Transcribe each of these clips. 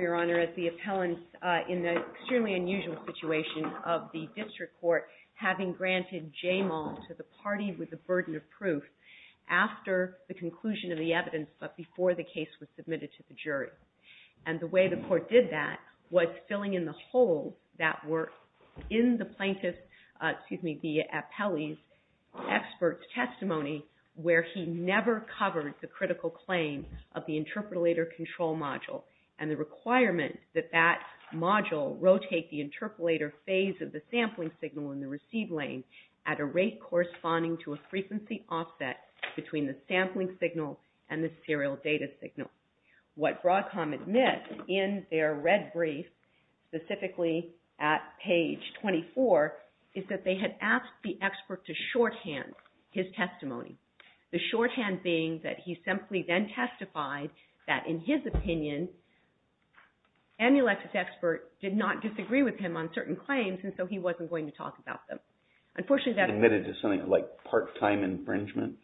Your Honor, as the appellant, in the extremely unusual situation of the district court having granted Jamal to the party with the burden of proof after the conclusion of the evidence but before the case was submitted to the jury. And the way the court did that was filling in the holes that were in the plaintiff's, excuse me, the appellee's, expert's testimony where he never covered the critical claim of the interpolator control module and the requirement that that module rotate the interpolator phase of the sampling signal in the receive lane at a rate corresponding to a frequency offset between the sampling signal and the serial data signal. What BROADCOM admits in their red brief, specifically at page 24, is that they had asked the expert to shorthand his testimony. The shorthand being that he simply then testified that, in his opinion, EMULEX's expert did not disagree with him on certain claims and so he wasn't going to talk about them. Unfortunately, that's – JUSTICE BREYER. Admitted to something like part-time infringement?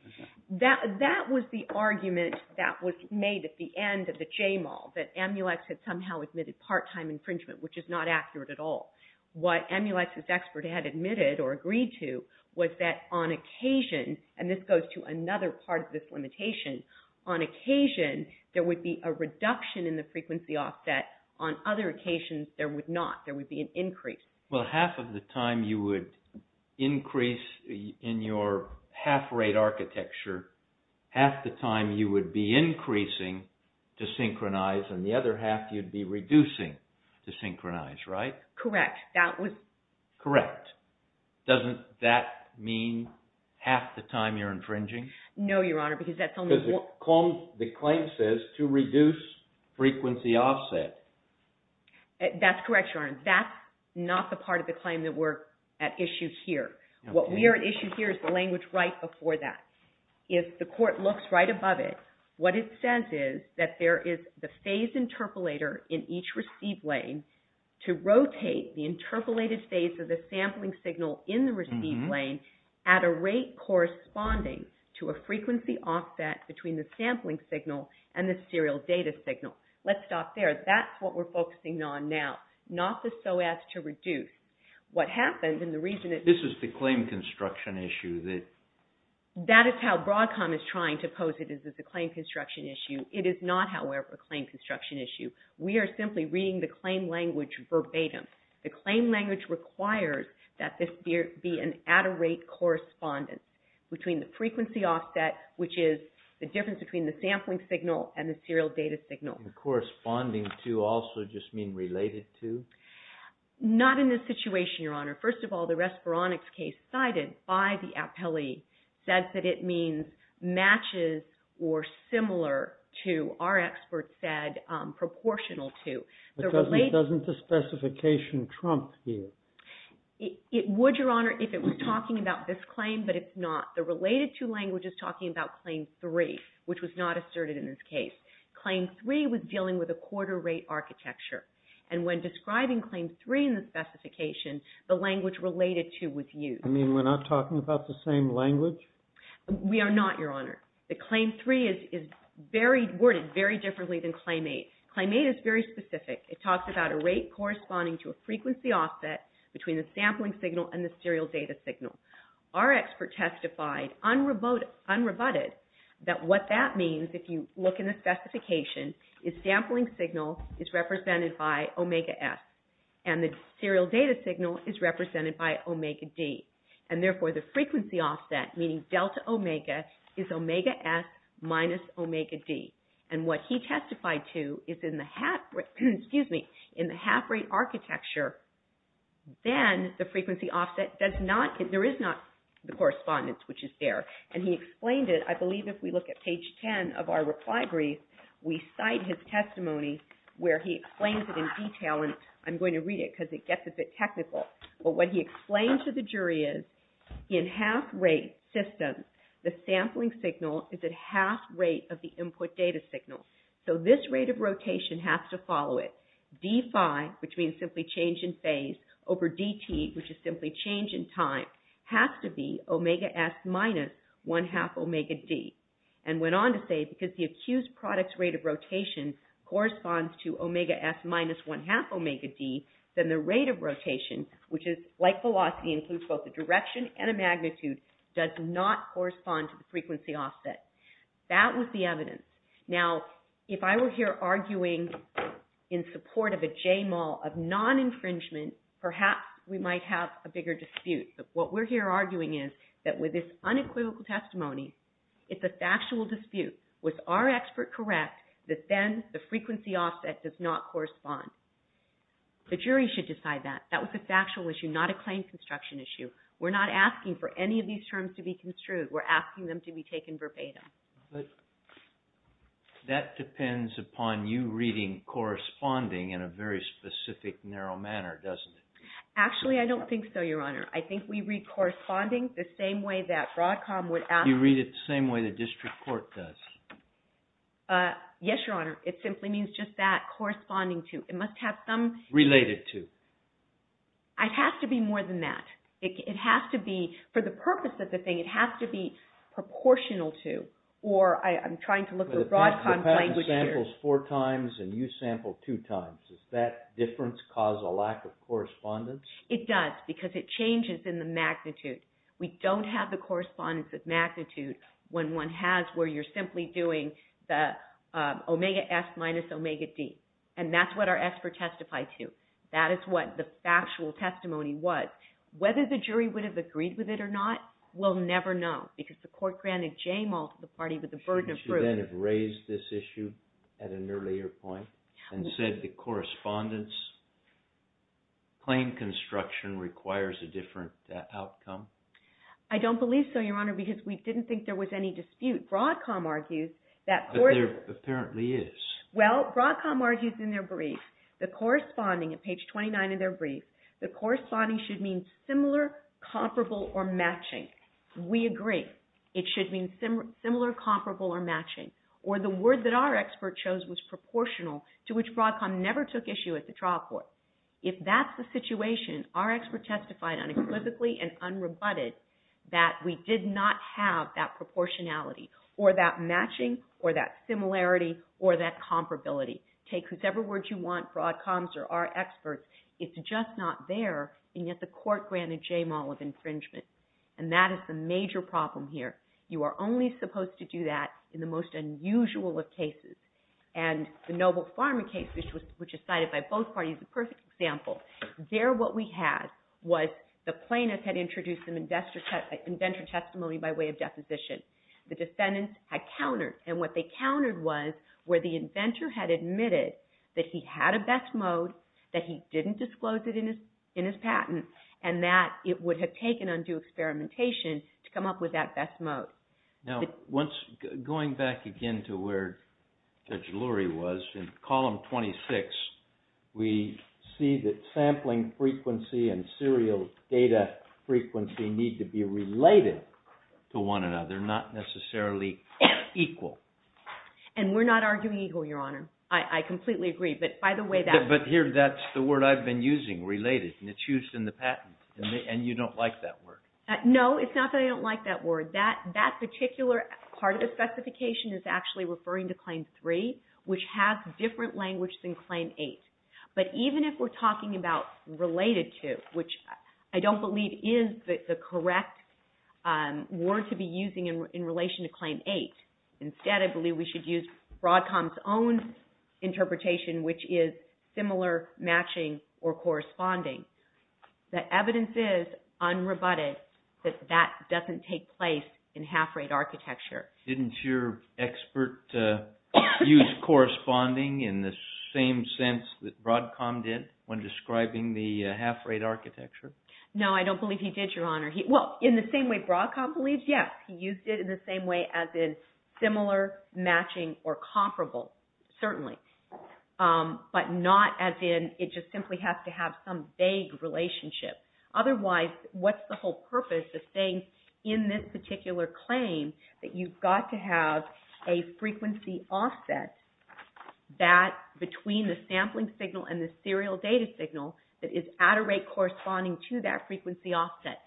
BROADCOM. That was the argument that was made at the end of the Jamal, that EMULEX had somehow admitted part-time infringement, which is not accurate at all. What EMULEX's expert had admitted or agreed to was that on occasion – and this goes to another part of this limitation – on occasion, there would be a reduction in the frequency offset. On other occasions, there would not. There would be an increase. JUSTICE BREYER. Well, half of the time you would increase in your half-rate architecture, half the time you would be increasing to synchronize, and the other half you'd be reducing to synchronize, right? BROADCOM. Correct. That was – JUSTICE BREYER. Correct. Doesn't that mean half the time you're infringing? BROADCOM. No, Your Honor, because that's only – JUSTICE BREYER. Because the claim says to reduce frequency offset. BROADCOM. That's correct, Your Honor. That's not the part of the claim that we're at issue here. What we are at issue here is the language right before that. If the court looks right above it, what it says is that there is the phase interpolator in each receive lane to rotate the interpolated phase of the sampling signal in the receive lane at a rate corresponding to a frequency offset between the sampling signal and the serial data signal. Let's stop there. That's what we're focusing on now, not the SOAS to reduce. What happened, and the reason that – JUSTICE BREYER. This is the claim construction issue that – BROADCOM. That is how BROADCOM is trying to pose it, is that it's a claim construction issue. It is not, however, a claim construction issue. We are simply reading the claim language verbatim. The claim language requires that this be an at-a-rate correspondence between the frequency offset, which is the difference between the sampling signal and the serial data signal. JUSTICE BREYER. And corresponding to also just mean related to? BROADCOM. Not in this situation, Your Honor. First of all, the Respironix case cited by the appellee says that it means matches or similar to, our experts said, proportional JUSTICE BREYER. But doesn't the specification trump here? BROADCOM. It would, Your Honor, if it was talking about this claim, but it's not. The related to language is talking about Claim 3, which was not asserted in this case. Claim 3 was dealing with a quarter rate architecture. And when describing Claim 3 in the specification, the language related to was used. JUSTICE BREYER. You mean we're not talking about the same language? BROADCOM. We are not, Your Honor. The Claim 3 is worded very differently than Claim 8. Claim 8 is very specific. It talks about a rate corresponding to a frequency offset between the sampling signal and the serial data signal. Our expert testified, unrebutted, that what that means, if you look in the specification, is sampling signal is represented by omega s, and the serial data signal is represented by omega d. And therefore, the frequency offset, meaning delta omega, is omega s minus omega d. And what he testified to is in the half rate architecture, then the frequency offset does not, there is not the correspondence which is there. And he explained it, I believe, if we look at page 10 of our reply brief, we cite his testimony where he explains it in detail. And I'm going to read it because it gets a bit technical. But what he explained to the jury is in half rate systems, the sampling signal is at half rate of the input data signal. So this rate of rotation has to follow it. D phi, which means simply change in phase, over Dt, which is simply change in time, has to be omega s minus one-half omega d. And went on to say, because the accused product's rate of rotation corresponds to omega s minus one-half omega d, then the rate of rotation, which is like velocity, includes both a direction and a magnitude, does not correspond to the frequency offset. That was the evidence. Now, if I were here arguing in support of a JMOL of non-infringement, perhaps we might have a bigger dispute. But what we're here arguing is that with this unequivocal testimony, it's a factual dispute. Was our expert correct that then the frequency offset does not correspond? The jury should decide that. That was a factual issue, not a claim construction issue. We're not asking for any of these terms to be construed. We're asking them to be taken verbatim. But that depends upon you reading corresponding in a very specific, narrow manner, doesn't it? Actually, I don't think so, Your Honor. I think we read corresponding the same way that Broadcom would ask... You read it the same way the district court does. Yes, Your Honor. It simply means just that, corresponding to. It must have some... Related to. It has to be more than that. It has to be, for the purpose of the thing, it has to be or I'm trying to look at Broadcom's language here. The patent samples four times and you sample two times. Does that difference cause a lack of correspondence? It does, because it changes in the magnitude. We don't have the correspondence of magnitude when one has where you're simply doing the omega S minus omega D. And that's what our expert testified to. That is what the factual testimony was. Whether the jury would have agreed with it or not, we'll never know. Because the court granted Jamal to the party with the burden of proof. Should you then have raised this issue at an earlier point and said the correspondence claim construction requires a different outcome? I don't believe so, Your Honor, because we didn't think there was any dispute. Broadcom argues that... But there apparently is. Well, Broadcom argues in their brief, the corresponding, at page 29 in their brief, the corresponding should mean similar, comparable, or matching. We agree. It should mean similar, comparable, or matching. Or the word that our expert chose was proportional, to which Broadcom never took issue at the trial court. If that's the situation, our expert testified unequivocally and unrebutted that we did not have that proportionality or that matching or that similarity or that comparability. Take whosever words you want, Broadcom's or our expert's. It's just not there, and yet the court granted Jamal of infringement. And that is the major problem here. You are only supposed to do that in the most unusual of cases. And the Noble Pharma case, which is cited by both parties, is a perfect example. There what we had was the plaintiff had introduced an inventor testimony by way of deposition. The defendants had countered, and what they countered was where the inventor had admitted that he had a best mode, that he didn't disclose it in his patent, and that it would have taken undue experimentation to come up with that best mode. Now, going back again to where Judge Lurie was, in column 26, we see that sampling frequency and serial data frequency need to be related to one another, not necessarily equal. And we're not arguing equal, Your Honor. I completely agree, but by the way that... But here, that's the word I've been using, related, and it's used in the patent, and you don't like that word. No, it's not that I don't like that word. That particular part of the specification is actually referring to Claim 3, which has different language than Claim 8. But even if we're talking about related to, which I don't believe is the correct word to be using in relation to Claim 8. Instead, I believe we should use Broadcom's own interpretation, which is similar matching or corresponding. The evidence is, unrebutted, that that doesn't take place in half-rate architecture. Didn't your expert use corresponding in the same sense that Broadcom did when describing the half-rate architecture? No, I don't believe he did, Your Honor. Well, in the same way Broadcom believes, yes. He used it in the same way as in similar, matching, or comparable, certainly. But not as in it just simply has to have some vague relationship. Otherwise, what's the whole purpose of saying in this particular claim that you've got to have a frequency offset between the sampling signal and the serial data signal that is at a rate corresponding to that frequency offset?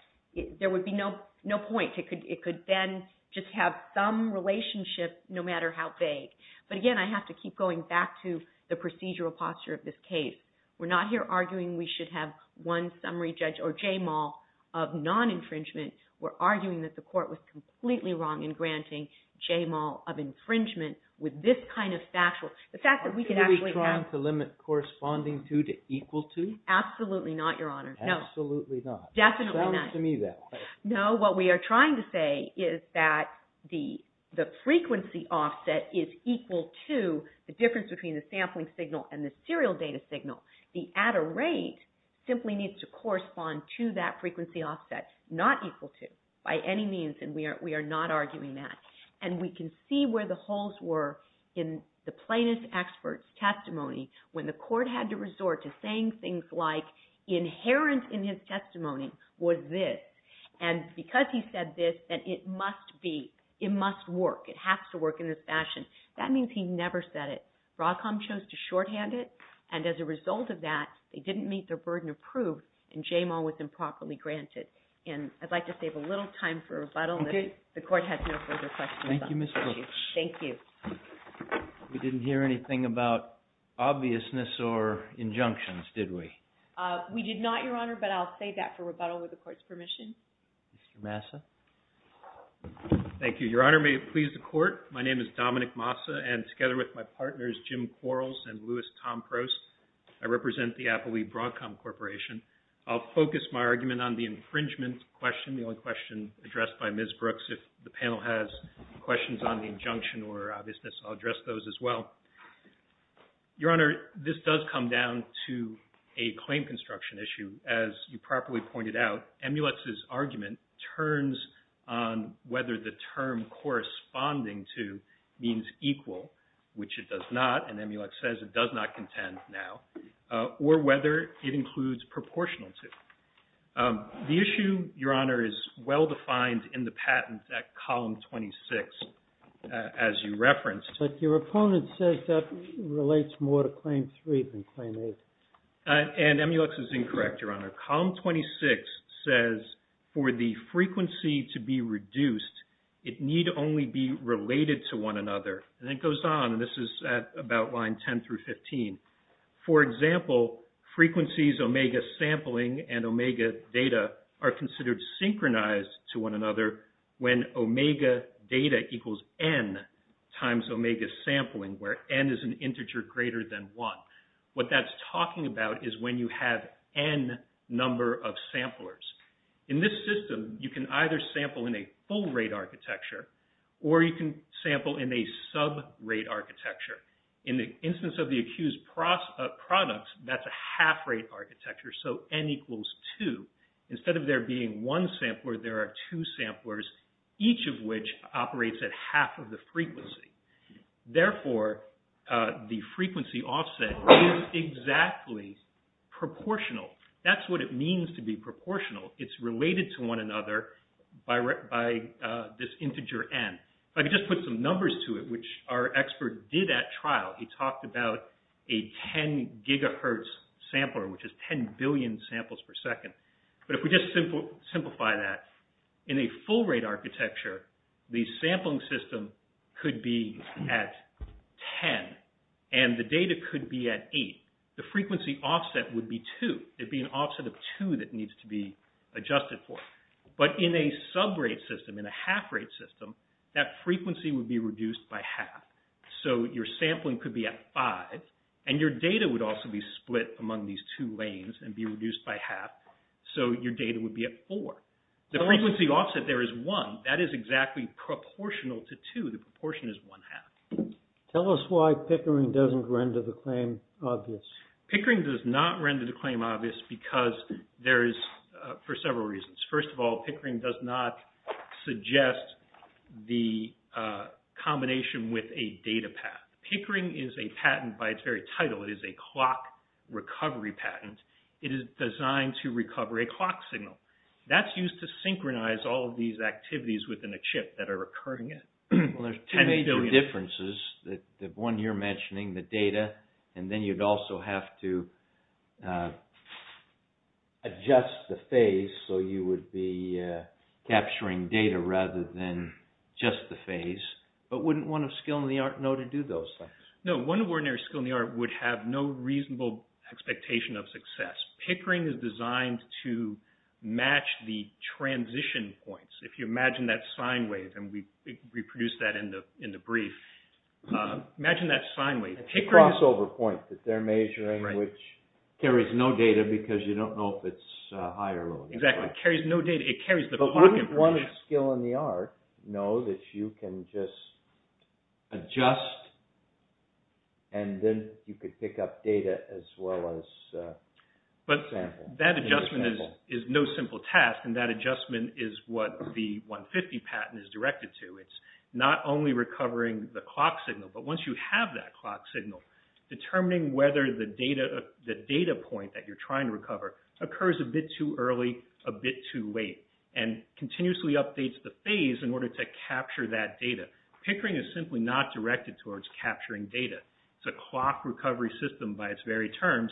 There would be no point. It could then just have some relationship, no matter how vague. But again, I have to keep going back to the procedural posture of this case. We're not here arguing we should have one summary judge or J-Mall of non-infringement. We're arguing that the court was completely wrong in granting J-Mall of infringement with this kind of factual... Are we trying to limit corresponding to to equal to? Absolutely not, Your Honor. Absolutely not. Definitely not. It sounds to me that way. No, what we are trying to say is that the frequency offset is equal to the difference between the sampling signal and the serial data signal. The at a rate simply needs to correspond to that frequency offset, not equal to, by any means, and we are not arguing that. And we can see where the holes were in the plaintiff's expert's testimony when the court had to resort to saying things like, inherent in his testimony was this. And because he said this, then it must be, it must work, it has to work in this fashion. That means he never said it. Roscom chose to shorthand it, and as a result of that, they didn't meet their burden of proof, and J-Mall was improperly granted. And I'd like to save a little time for rebuttal. Okay. The court has no further questions. Thank you, Ms. Brooks. Thank you. We didn't hear anything about obviousness or injunctions, did we? We did not, Your Honor, but I'll save that for rebuttal, with the court's permission. Mr. Massa. Thank you. Your Honor, may it please the court, my name is Dominic Massa, and together with my partners, Jim Quarles and Louis Tomprose, I represent the Appleby Broadcom Corporation. I'll focus my argument on the infringement question, the only question addressed by Ms. Brooks. If the panel has questions on the injunction or obviousness, I'll address those as well. Your Honor, this does come down to a claim construction issue. As you properly pointed out, Emulet's argument turns on whether the term corresponding to means equal, which it does not, and Emulet says it does not contend now, or whether it includes proportional to. The issue, Your Honor, is well defined in the patent at Column 26, as you referenced. But your opponent says that relates more to Claim 3 than Claim 8. And Emulet's is incorrect, Your Honor. Column 26 says for the frequency to be reduced, it need only be related to one another. And it goes on, and this is at about line 10 through 15. For example, frequencies omega sampling and omega data are considered synchronized to one another when omega data equals n times omega sampling, where n is an integer greater than 1. What that's talking about is when you have n number of samplers. In this system, you can either sample in a full rate architecture, or you can sample in a sub rate architecture. In the instance of the accused products, that's a half rate architecture, so n equals 2. Instead of there being one sampler, there are two samplers, each of which operates at half of the frequency. Therefore, the frequency offset is exactly proportional. That's what it means to be proportional. It's related to one another by this integer n. If I could just put some numbers to it, which our expert did at trial, he talked about a 10 gigahertz sampler, which is 10 billion samples per second. But if we just simplify that, in a full rate architecture, the sampling system could be at 10, and the data could be at 8. The frequency offset would be 2. It would be an offset of 2 that needs to be adjusted for. But in a sub rate system, in a half rate system, that frequency would be reduced by half. So your sampling could be at 5, and your data would also be split among these two lanes and be reduced by half, so your data would be at 4. The frequency offset there is 1. That is exactly proportional to 2. The proportion is one half. Tell us why Pickering doesn't render the claim obvious. Pickering does not render the claim obvious because there is, for several reasons. First of all, Pickering does not suggest the combination with a data path. Pickering is a patent by its very title. It is a clock recovery patent. It is designed to recover a clock signal. That's used to synchronize all of these activities within a chip that are occurring at 10 billion. Well, there's two major differences, the one you're mentioning, the data, and then you'd also have to adjust the phase, so you would be capturing data rather than just the phase. But wouldn't one of skill in the art know to do those things? No, one of ordinary skill in the art would have no reasonable expectation of success. Pickering is designed to match the transition points. If you imagine that sine wave, and we produced that in the brief, imagine that sine wave. It's a crossover point that they're measuring which carries no data because you don't know if it's high or low. Exactly. It carries no data. It carries the clock information. But wouldn't one of skill in the art know that you can just adjust and then you could pick up data as well as sample? But that adjustment is no simple task, and that adjustment is what the 150 patent is directed to. It's not only recovering the clock signal, but once you have that clock signal, determining whether the data point that you're trying to recover occurs a bit too early, a bit too late, and continuously updates the phase in order to capture that data. Pickering is simply not directed towards capturing data. It's a clock recovery system by its very terms,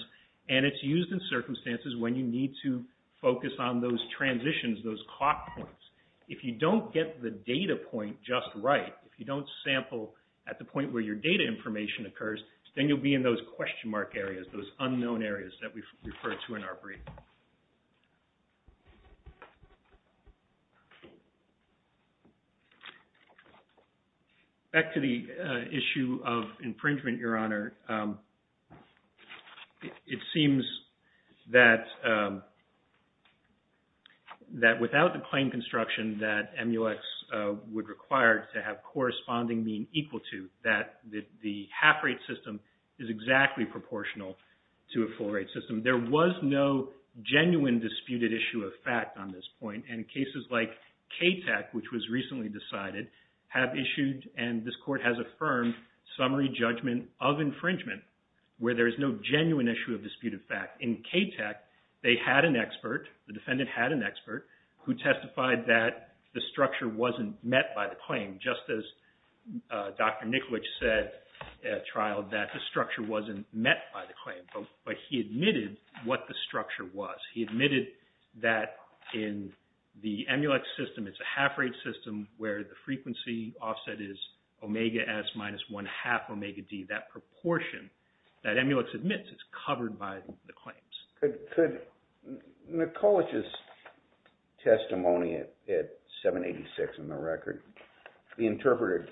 and it's used in circumstances when you need to focus on those transitions, those clock points. If you don't get the data point just right, if you don't sample at the point where your data information occurs, then you'll be in those question mark areas, those unknown areas that we've referred to in our brief. Back to the issue of infringement, Your Honor. It seems that without the claim construction that MUX would require to have corresponding mean equal to, that the half rate system is exactly proportional to a full rate system. There was no genuine disputed issue of fact on this point, and cases like KTAC, which was recently decided, have issued, and this Court has affirmed, summary judgment of infringement where there is no genuine issue of disputed fact. In KTAC, they had an expert, the defendant had an expert, who testified that the structure wasn't met by the claim, just as Dr. Nikolic said at trial, that the structure wasn't met by the claim, but he admitted what the structure was. He admitted that in the MUX system, it's a half rate system where the frequency offset is omega S minus one half omega D. That proportion that MUX admits is covered by the claims. Could Nikolic's testimony at 786 in the record, be interpreted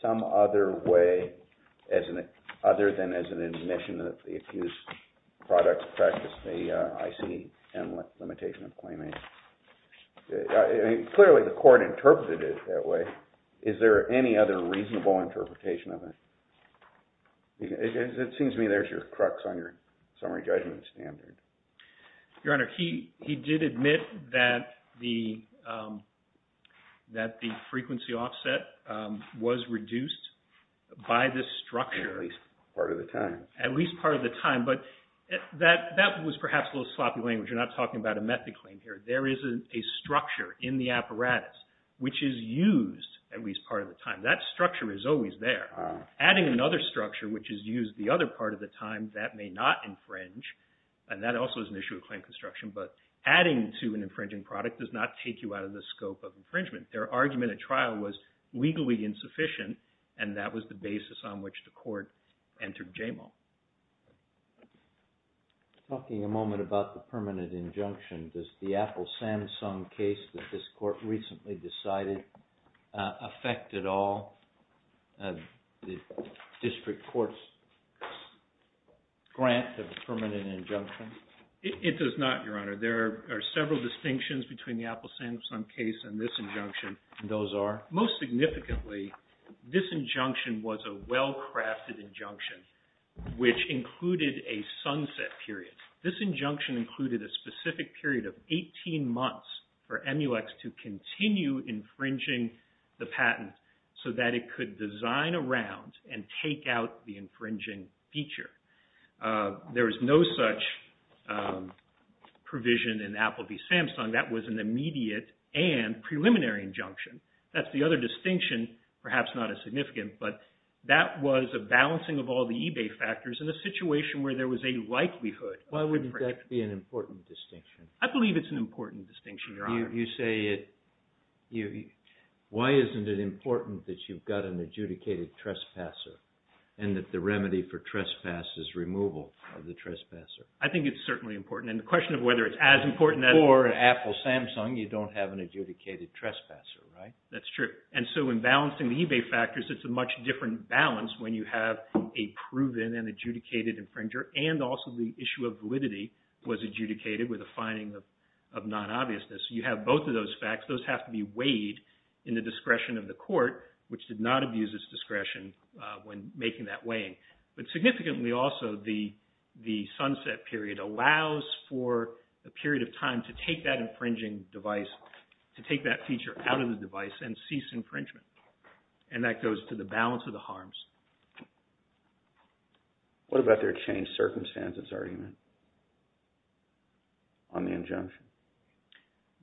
some other way other than as an admission that the accused product practiced the ICM limitation of claiming? Clearly, the Court interpreted it that way. Is there any other reasonable interpretation of it? It seems to me there's your crux on your summary judgment standard. Your Honor, he did admit that the frequency offset was reduced by the structure. At least part of the time. At least part of the time, but that was perhaps a little sloppy language. You're not talking about a method claim here. There is a structure in the apparatus which is used at least part of the time. That structure is always there. Adding another structure which is used the other part of the time, that may not infringe, and that also is an issue of claim construction, but adding to an infringing product does not take you out of the scope of infringement. Their argument at trial was legally insufficient, and that was the basis on which the Court entered JAMAL. Talking a moment about the permanent injunction, does the Apple-Samsung case that this Court recently decided affect at all the district court's grant of a permanent injunction? It does not, Your Honor. There are several distinctions between the Apple-Samsung case and this injunction, and those are, most significantly, this injunction was a well-crafted injunction which included a sunset period. This injunction included a specific period of 18 months for EmuEx to continue infringing the patent so that it could design around and take out the infringing feature. There is no such provision in Apple v. Samsung. That was an immediate and preliminary injunction. That's the other distinction, perhaps not as significant, but that was a balancing of all the eBay factors in a situation where there was a likelihood of infringement. Why would that be an important distinction? I believe it's an important distinction, Your Honor. You say it. Why isn't it important that you've got an adjudicated trespasser and that the remedy for trespass is removal of the trespasser? I think it's certainly important. And the question of whether it's as important as… For Apple-Samsung, you don't have an adjudicated trespasser, right? That's true. And so in balancing the eBay factors, it's a much different balance when you have a proven and adjudicated infringer and also the issue of validity was adjudicated with a finding of non-obviousness. You have both of those facts. Those have to be weighed in the discretion of the court, which did not abuse its discretion when making that weighing. But significantly also, the sunset period allows for a period of time to take that infringing device, to take that feature out of the device and cease infringement. And that goes to the balance of the harms. What about their changed circumstances argument on the injunction?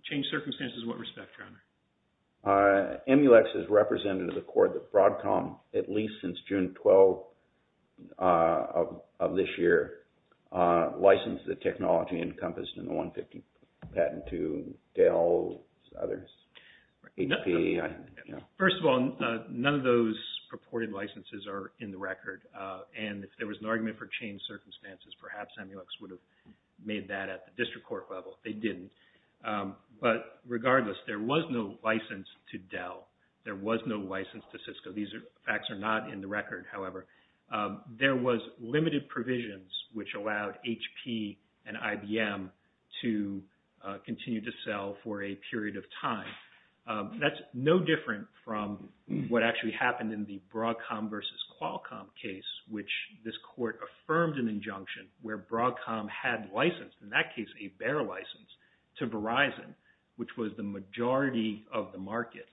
Changed circumstances in what respect, Your Honor? Emulex has represented the court at Broadcom at least since June 12 of this year, licensed the technology encompassed in the 150 patent to Dell, others, HP. First of all, none of those purported licenses are in the record. And if there was an argument for changed circumstances, perhaps Emulex would have made that at the district court level. They didn't. But regardless, there was no license to Dell. There was no license to Cisco. These facts are not in the record, however. There was limited provisions which allowed HP and IBM to continue to sell for a period of time. That's no different from what actually happened in the Broadcom versus Qualcomm case, which this court affirmed an injunction where Broadcom had licensed, in that case, a bear license to Verizon, which was the majority of the market.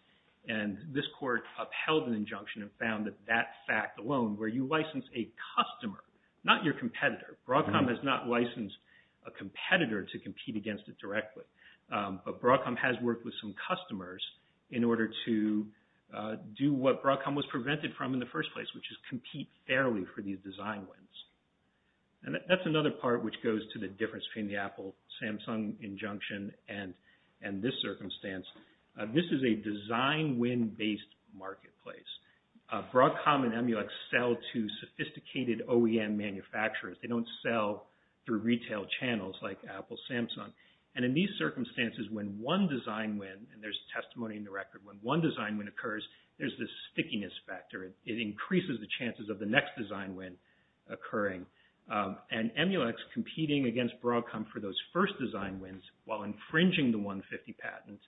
And this court upheld an injunction and found that that fact alone, where you license a customer, not your competitor. Broadcom has not licensed a competitor to compete against it directly. But Broadcom has worked with some customers in order to do what Broadcom was prevented from in the first place, which is compete fairly for these design wins. And that's another part which goes to the difference between the Apple-Samsung injunction and this circumstance. This is a design-win-based marketplace. Broadcom and Emulex sell to sophisticated OEM manufacturers. They don't sell through retail channels like Apple, Samsung. And in these circumstances, when one design win, and there's testimony in the record, when one design win occurs, there's this stickiness factor. It increases the chances of the next design win occurring. And Emulex competing against Broadcom for those first design wins, while infringing the 150 patents,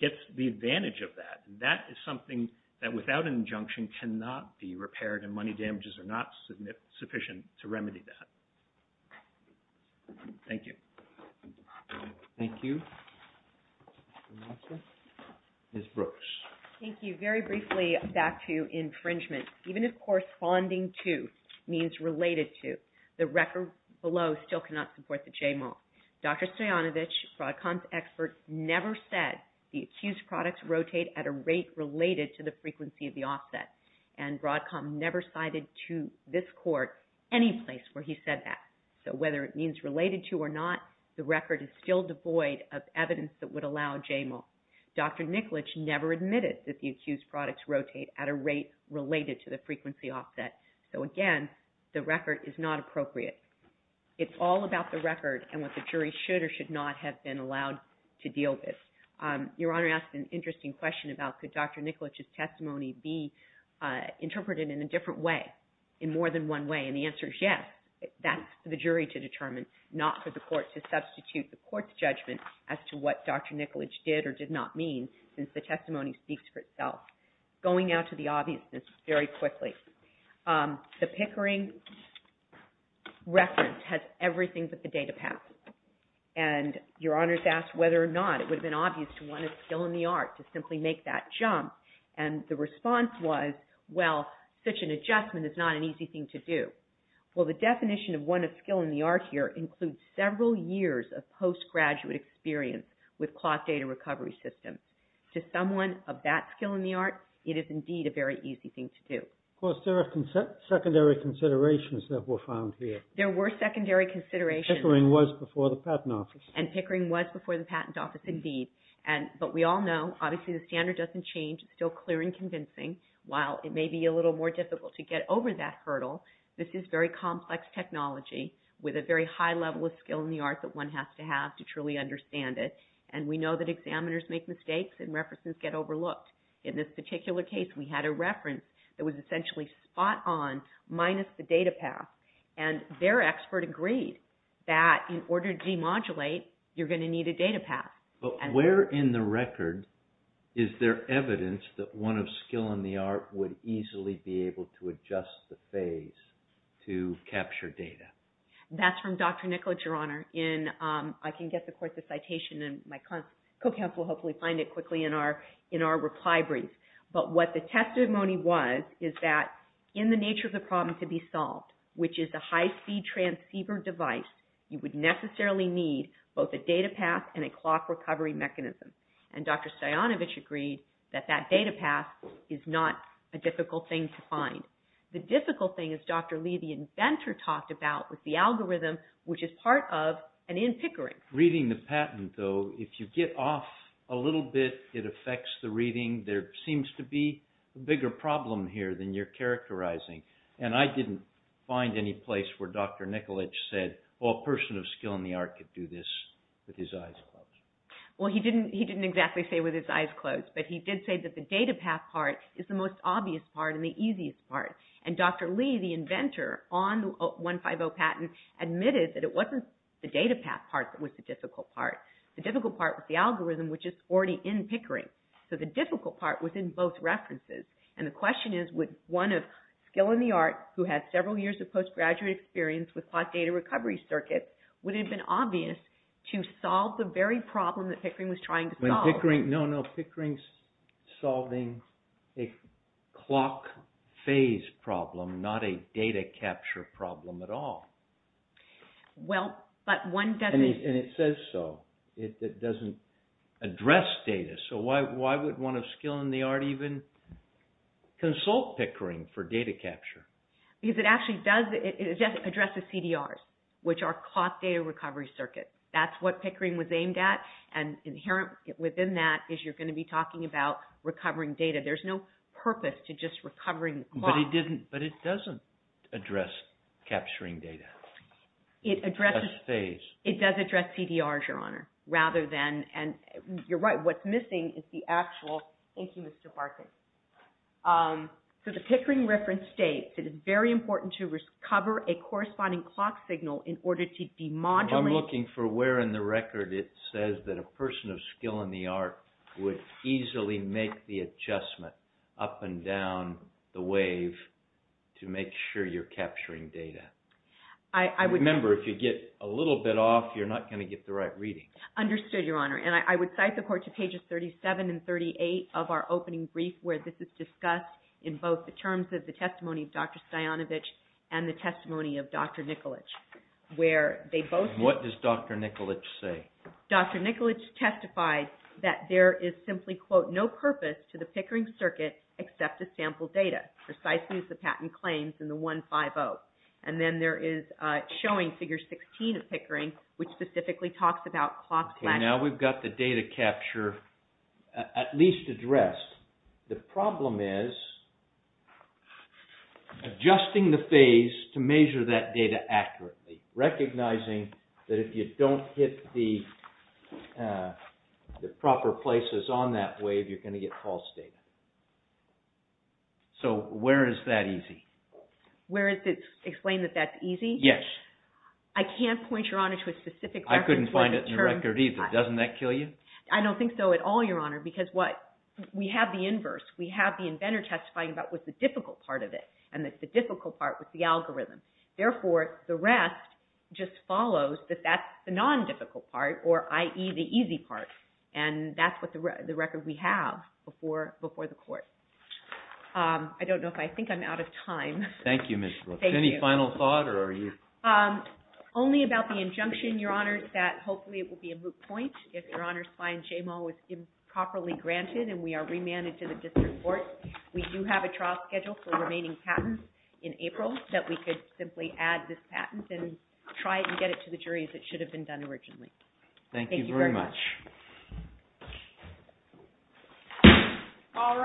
gets the advantage of that. That is something that without an injunction cannot be repaired, and money damages are not sufficient to remedy that. Thank you. Thank you. Ms. Brooks. Thank you. Very briefly, back to infringement. Even if corresponding to means related to, the record below still cannot support the JMAL. Dr. Stoyanovich, Broadcom's expert, never said the accused products rotate at a rate related to the frequency of the offset. And Broadcom never cited to this court any place where he said that. So whether it means related to or not, the record is still devoid of evidence that would allow JMAL. Dr. Nikolic never admitted that the accused products rotate at a rate related to the frequency offset. So again, the record is not appropriate. It's all about the record and what the jury should or should not have been allowed to deal with. Your Honor asked an interesting question about could Dr. Nikolic's testimony be interpreted in a different way, in more than one way, and the answer is yes. That's for the jury to determine, not for the court to substitute the court's judgment as to what Dr. Nikolic did or did not mean, since the testimony speaks for itself. Going now to the obviousness very quickly. The Pickering reference has everything but the data path. And Your Honor's asked whether or not it would have been obvious to one of skill in the art to simply make that jump, and the response was, well, such an adjustment is not an easy thing to do. Well, the definition of one of skill in the art here includes several years of post-graduate experience with cloth data recovery systems. To someone of that skill in the art, it is indeed a very easy thing to do. Of course, there are secondary considerations that were found here. There were secondary considerations. Pickering was before the patent office. And Pickering was before the patent office, indeed. But we all know, obviously, the standard doesn't change. It's still clear and convincing. While it may be a little more difficult to get over that hurdle, this is very complex technology with a very high level of skill in the art that one has to have to truly understand it, and we know that examiners make mistakes and references get overlooked. In this particular case, we had a reference that was essentially spot on minus the data path, and their expert agreed that in order to demodulate, you're going to need a data path. But where in the record is there evidence that one of skill in the art would easily be able to adjust the phase to capture data? That's from Dr. Nicholas, Your Honor. I can get the course of citation, and my co-counsel will hopefully find it quickly in our reply brief. But what the testimony was is that in the nature of the problem to be solved, which is a high-speed transceiver device, you would necessarily need both a data path and a clock recovery mechanism. And Dr. Stajanovich agreed that that data path is not a difficult thing to find. The difficult thing, as Dr. Lee, the inventor, talked about was the algorithm, which is part of an in-Pickering. Reading the patent, though, if you get off a little bit, it affects the reading. There seems to be a bigger problem here than you're characterizing. And I didn't find any place where Dr. Nicolich said, well, a person of skill in the art could do this with his eyes closed. Well, he didn't exactly say with his eyes closed, but he did say that the data path part is the most obvious part and the easiest part. And Dr. Lee, the inventor on the 150 patent, admitted that it wasn't the data path part that was the difficult part. The difficult part was the algorithm, which is already in Pickering. So the difficult part was in both references. And the question is, would one of skill in the art, who had several years of postgraduate experience with clock data recovery circuits, would it have been obvious to solve the very problem that Pickering was trying to solve? No, no, Pickering's solving a clock phase problem, not a data capture problem at all. Well, but one doesn't... And it says so. It doesn't address data. So why would one of skill in the art even consult Pickering for data capture? Because it actually does address the CDRs, which are clock data recovery circuits. That's what Pickering was aimed at. And inherent within that is you're going to be talking about recovering data. There's no purpose to just recovering the clock. It does address CDRs, Your Honor. And you're right, what's missing is the actual... Thank you, Mr. Barkin. So the Pickering reference states, it is very important to recover a corresponding clock signal in order to demodulate... I'm looking for where in the record it says that a person of skill in the art would easily make the adjustment up and down the wave to make sure you're capturing data. Remember, if you get a little bit off, you're not going to get the right reading. Understood, Your Honor. And I would cite the court to pages 37 and 38 of our opening brief, where this is discussed in both the terms of the testimony of Dr. Stajanovich and the testimony of Dr. Nicolich, where they both... What does Dr. Nicolich say? Dr. Nicolich testified that there is simply, quote, no purpose to the Pickering circuit except to sample data, precisely as the patent claims in the 150. And then there is showing figure 16 of Pickering, which specifically talks about clock... Okay, now we've got the data capture at least addressed. The problem is adjusting the phase to measure that data accurately, recognizing that if you don't hit the proper places on that wave, you're going to get false data. So where is that easy? Where is it explained that that's easy? Yes. I can't point, Your Honor, to a specific record. I couldn't find it in the record either. Doesn't that kill you? I don't think so at all, Your Honor, because what? We have the inverse. We have the inventor testifying about what's the difficult part of it, and it's the difficult part with the algorithm. Therefore, the rest just follows that that's the non-difficult part, or i.e., the easy part. And that's the record we have before the court. I don't know if I think I'm out of time. Thank you, Ms. Brooks. Any final thought or are you... Only about the injunction, Your Honor, that hopefully it will be a moot point if Your Honor finds JMAL was improperly granted and we are remanded to the district court. We do have a trial schedule for remaining patents in April that we could simply add this patent and try to get it to the jury as it should have been done originally. Thank you very much. Thank you very much. All rise.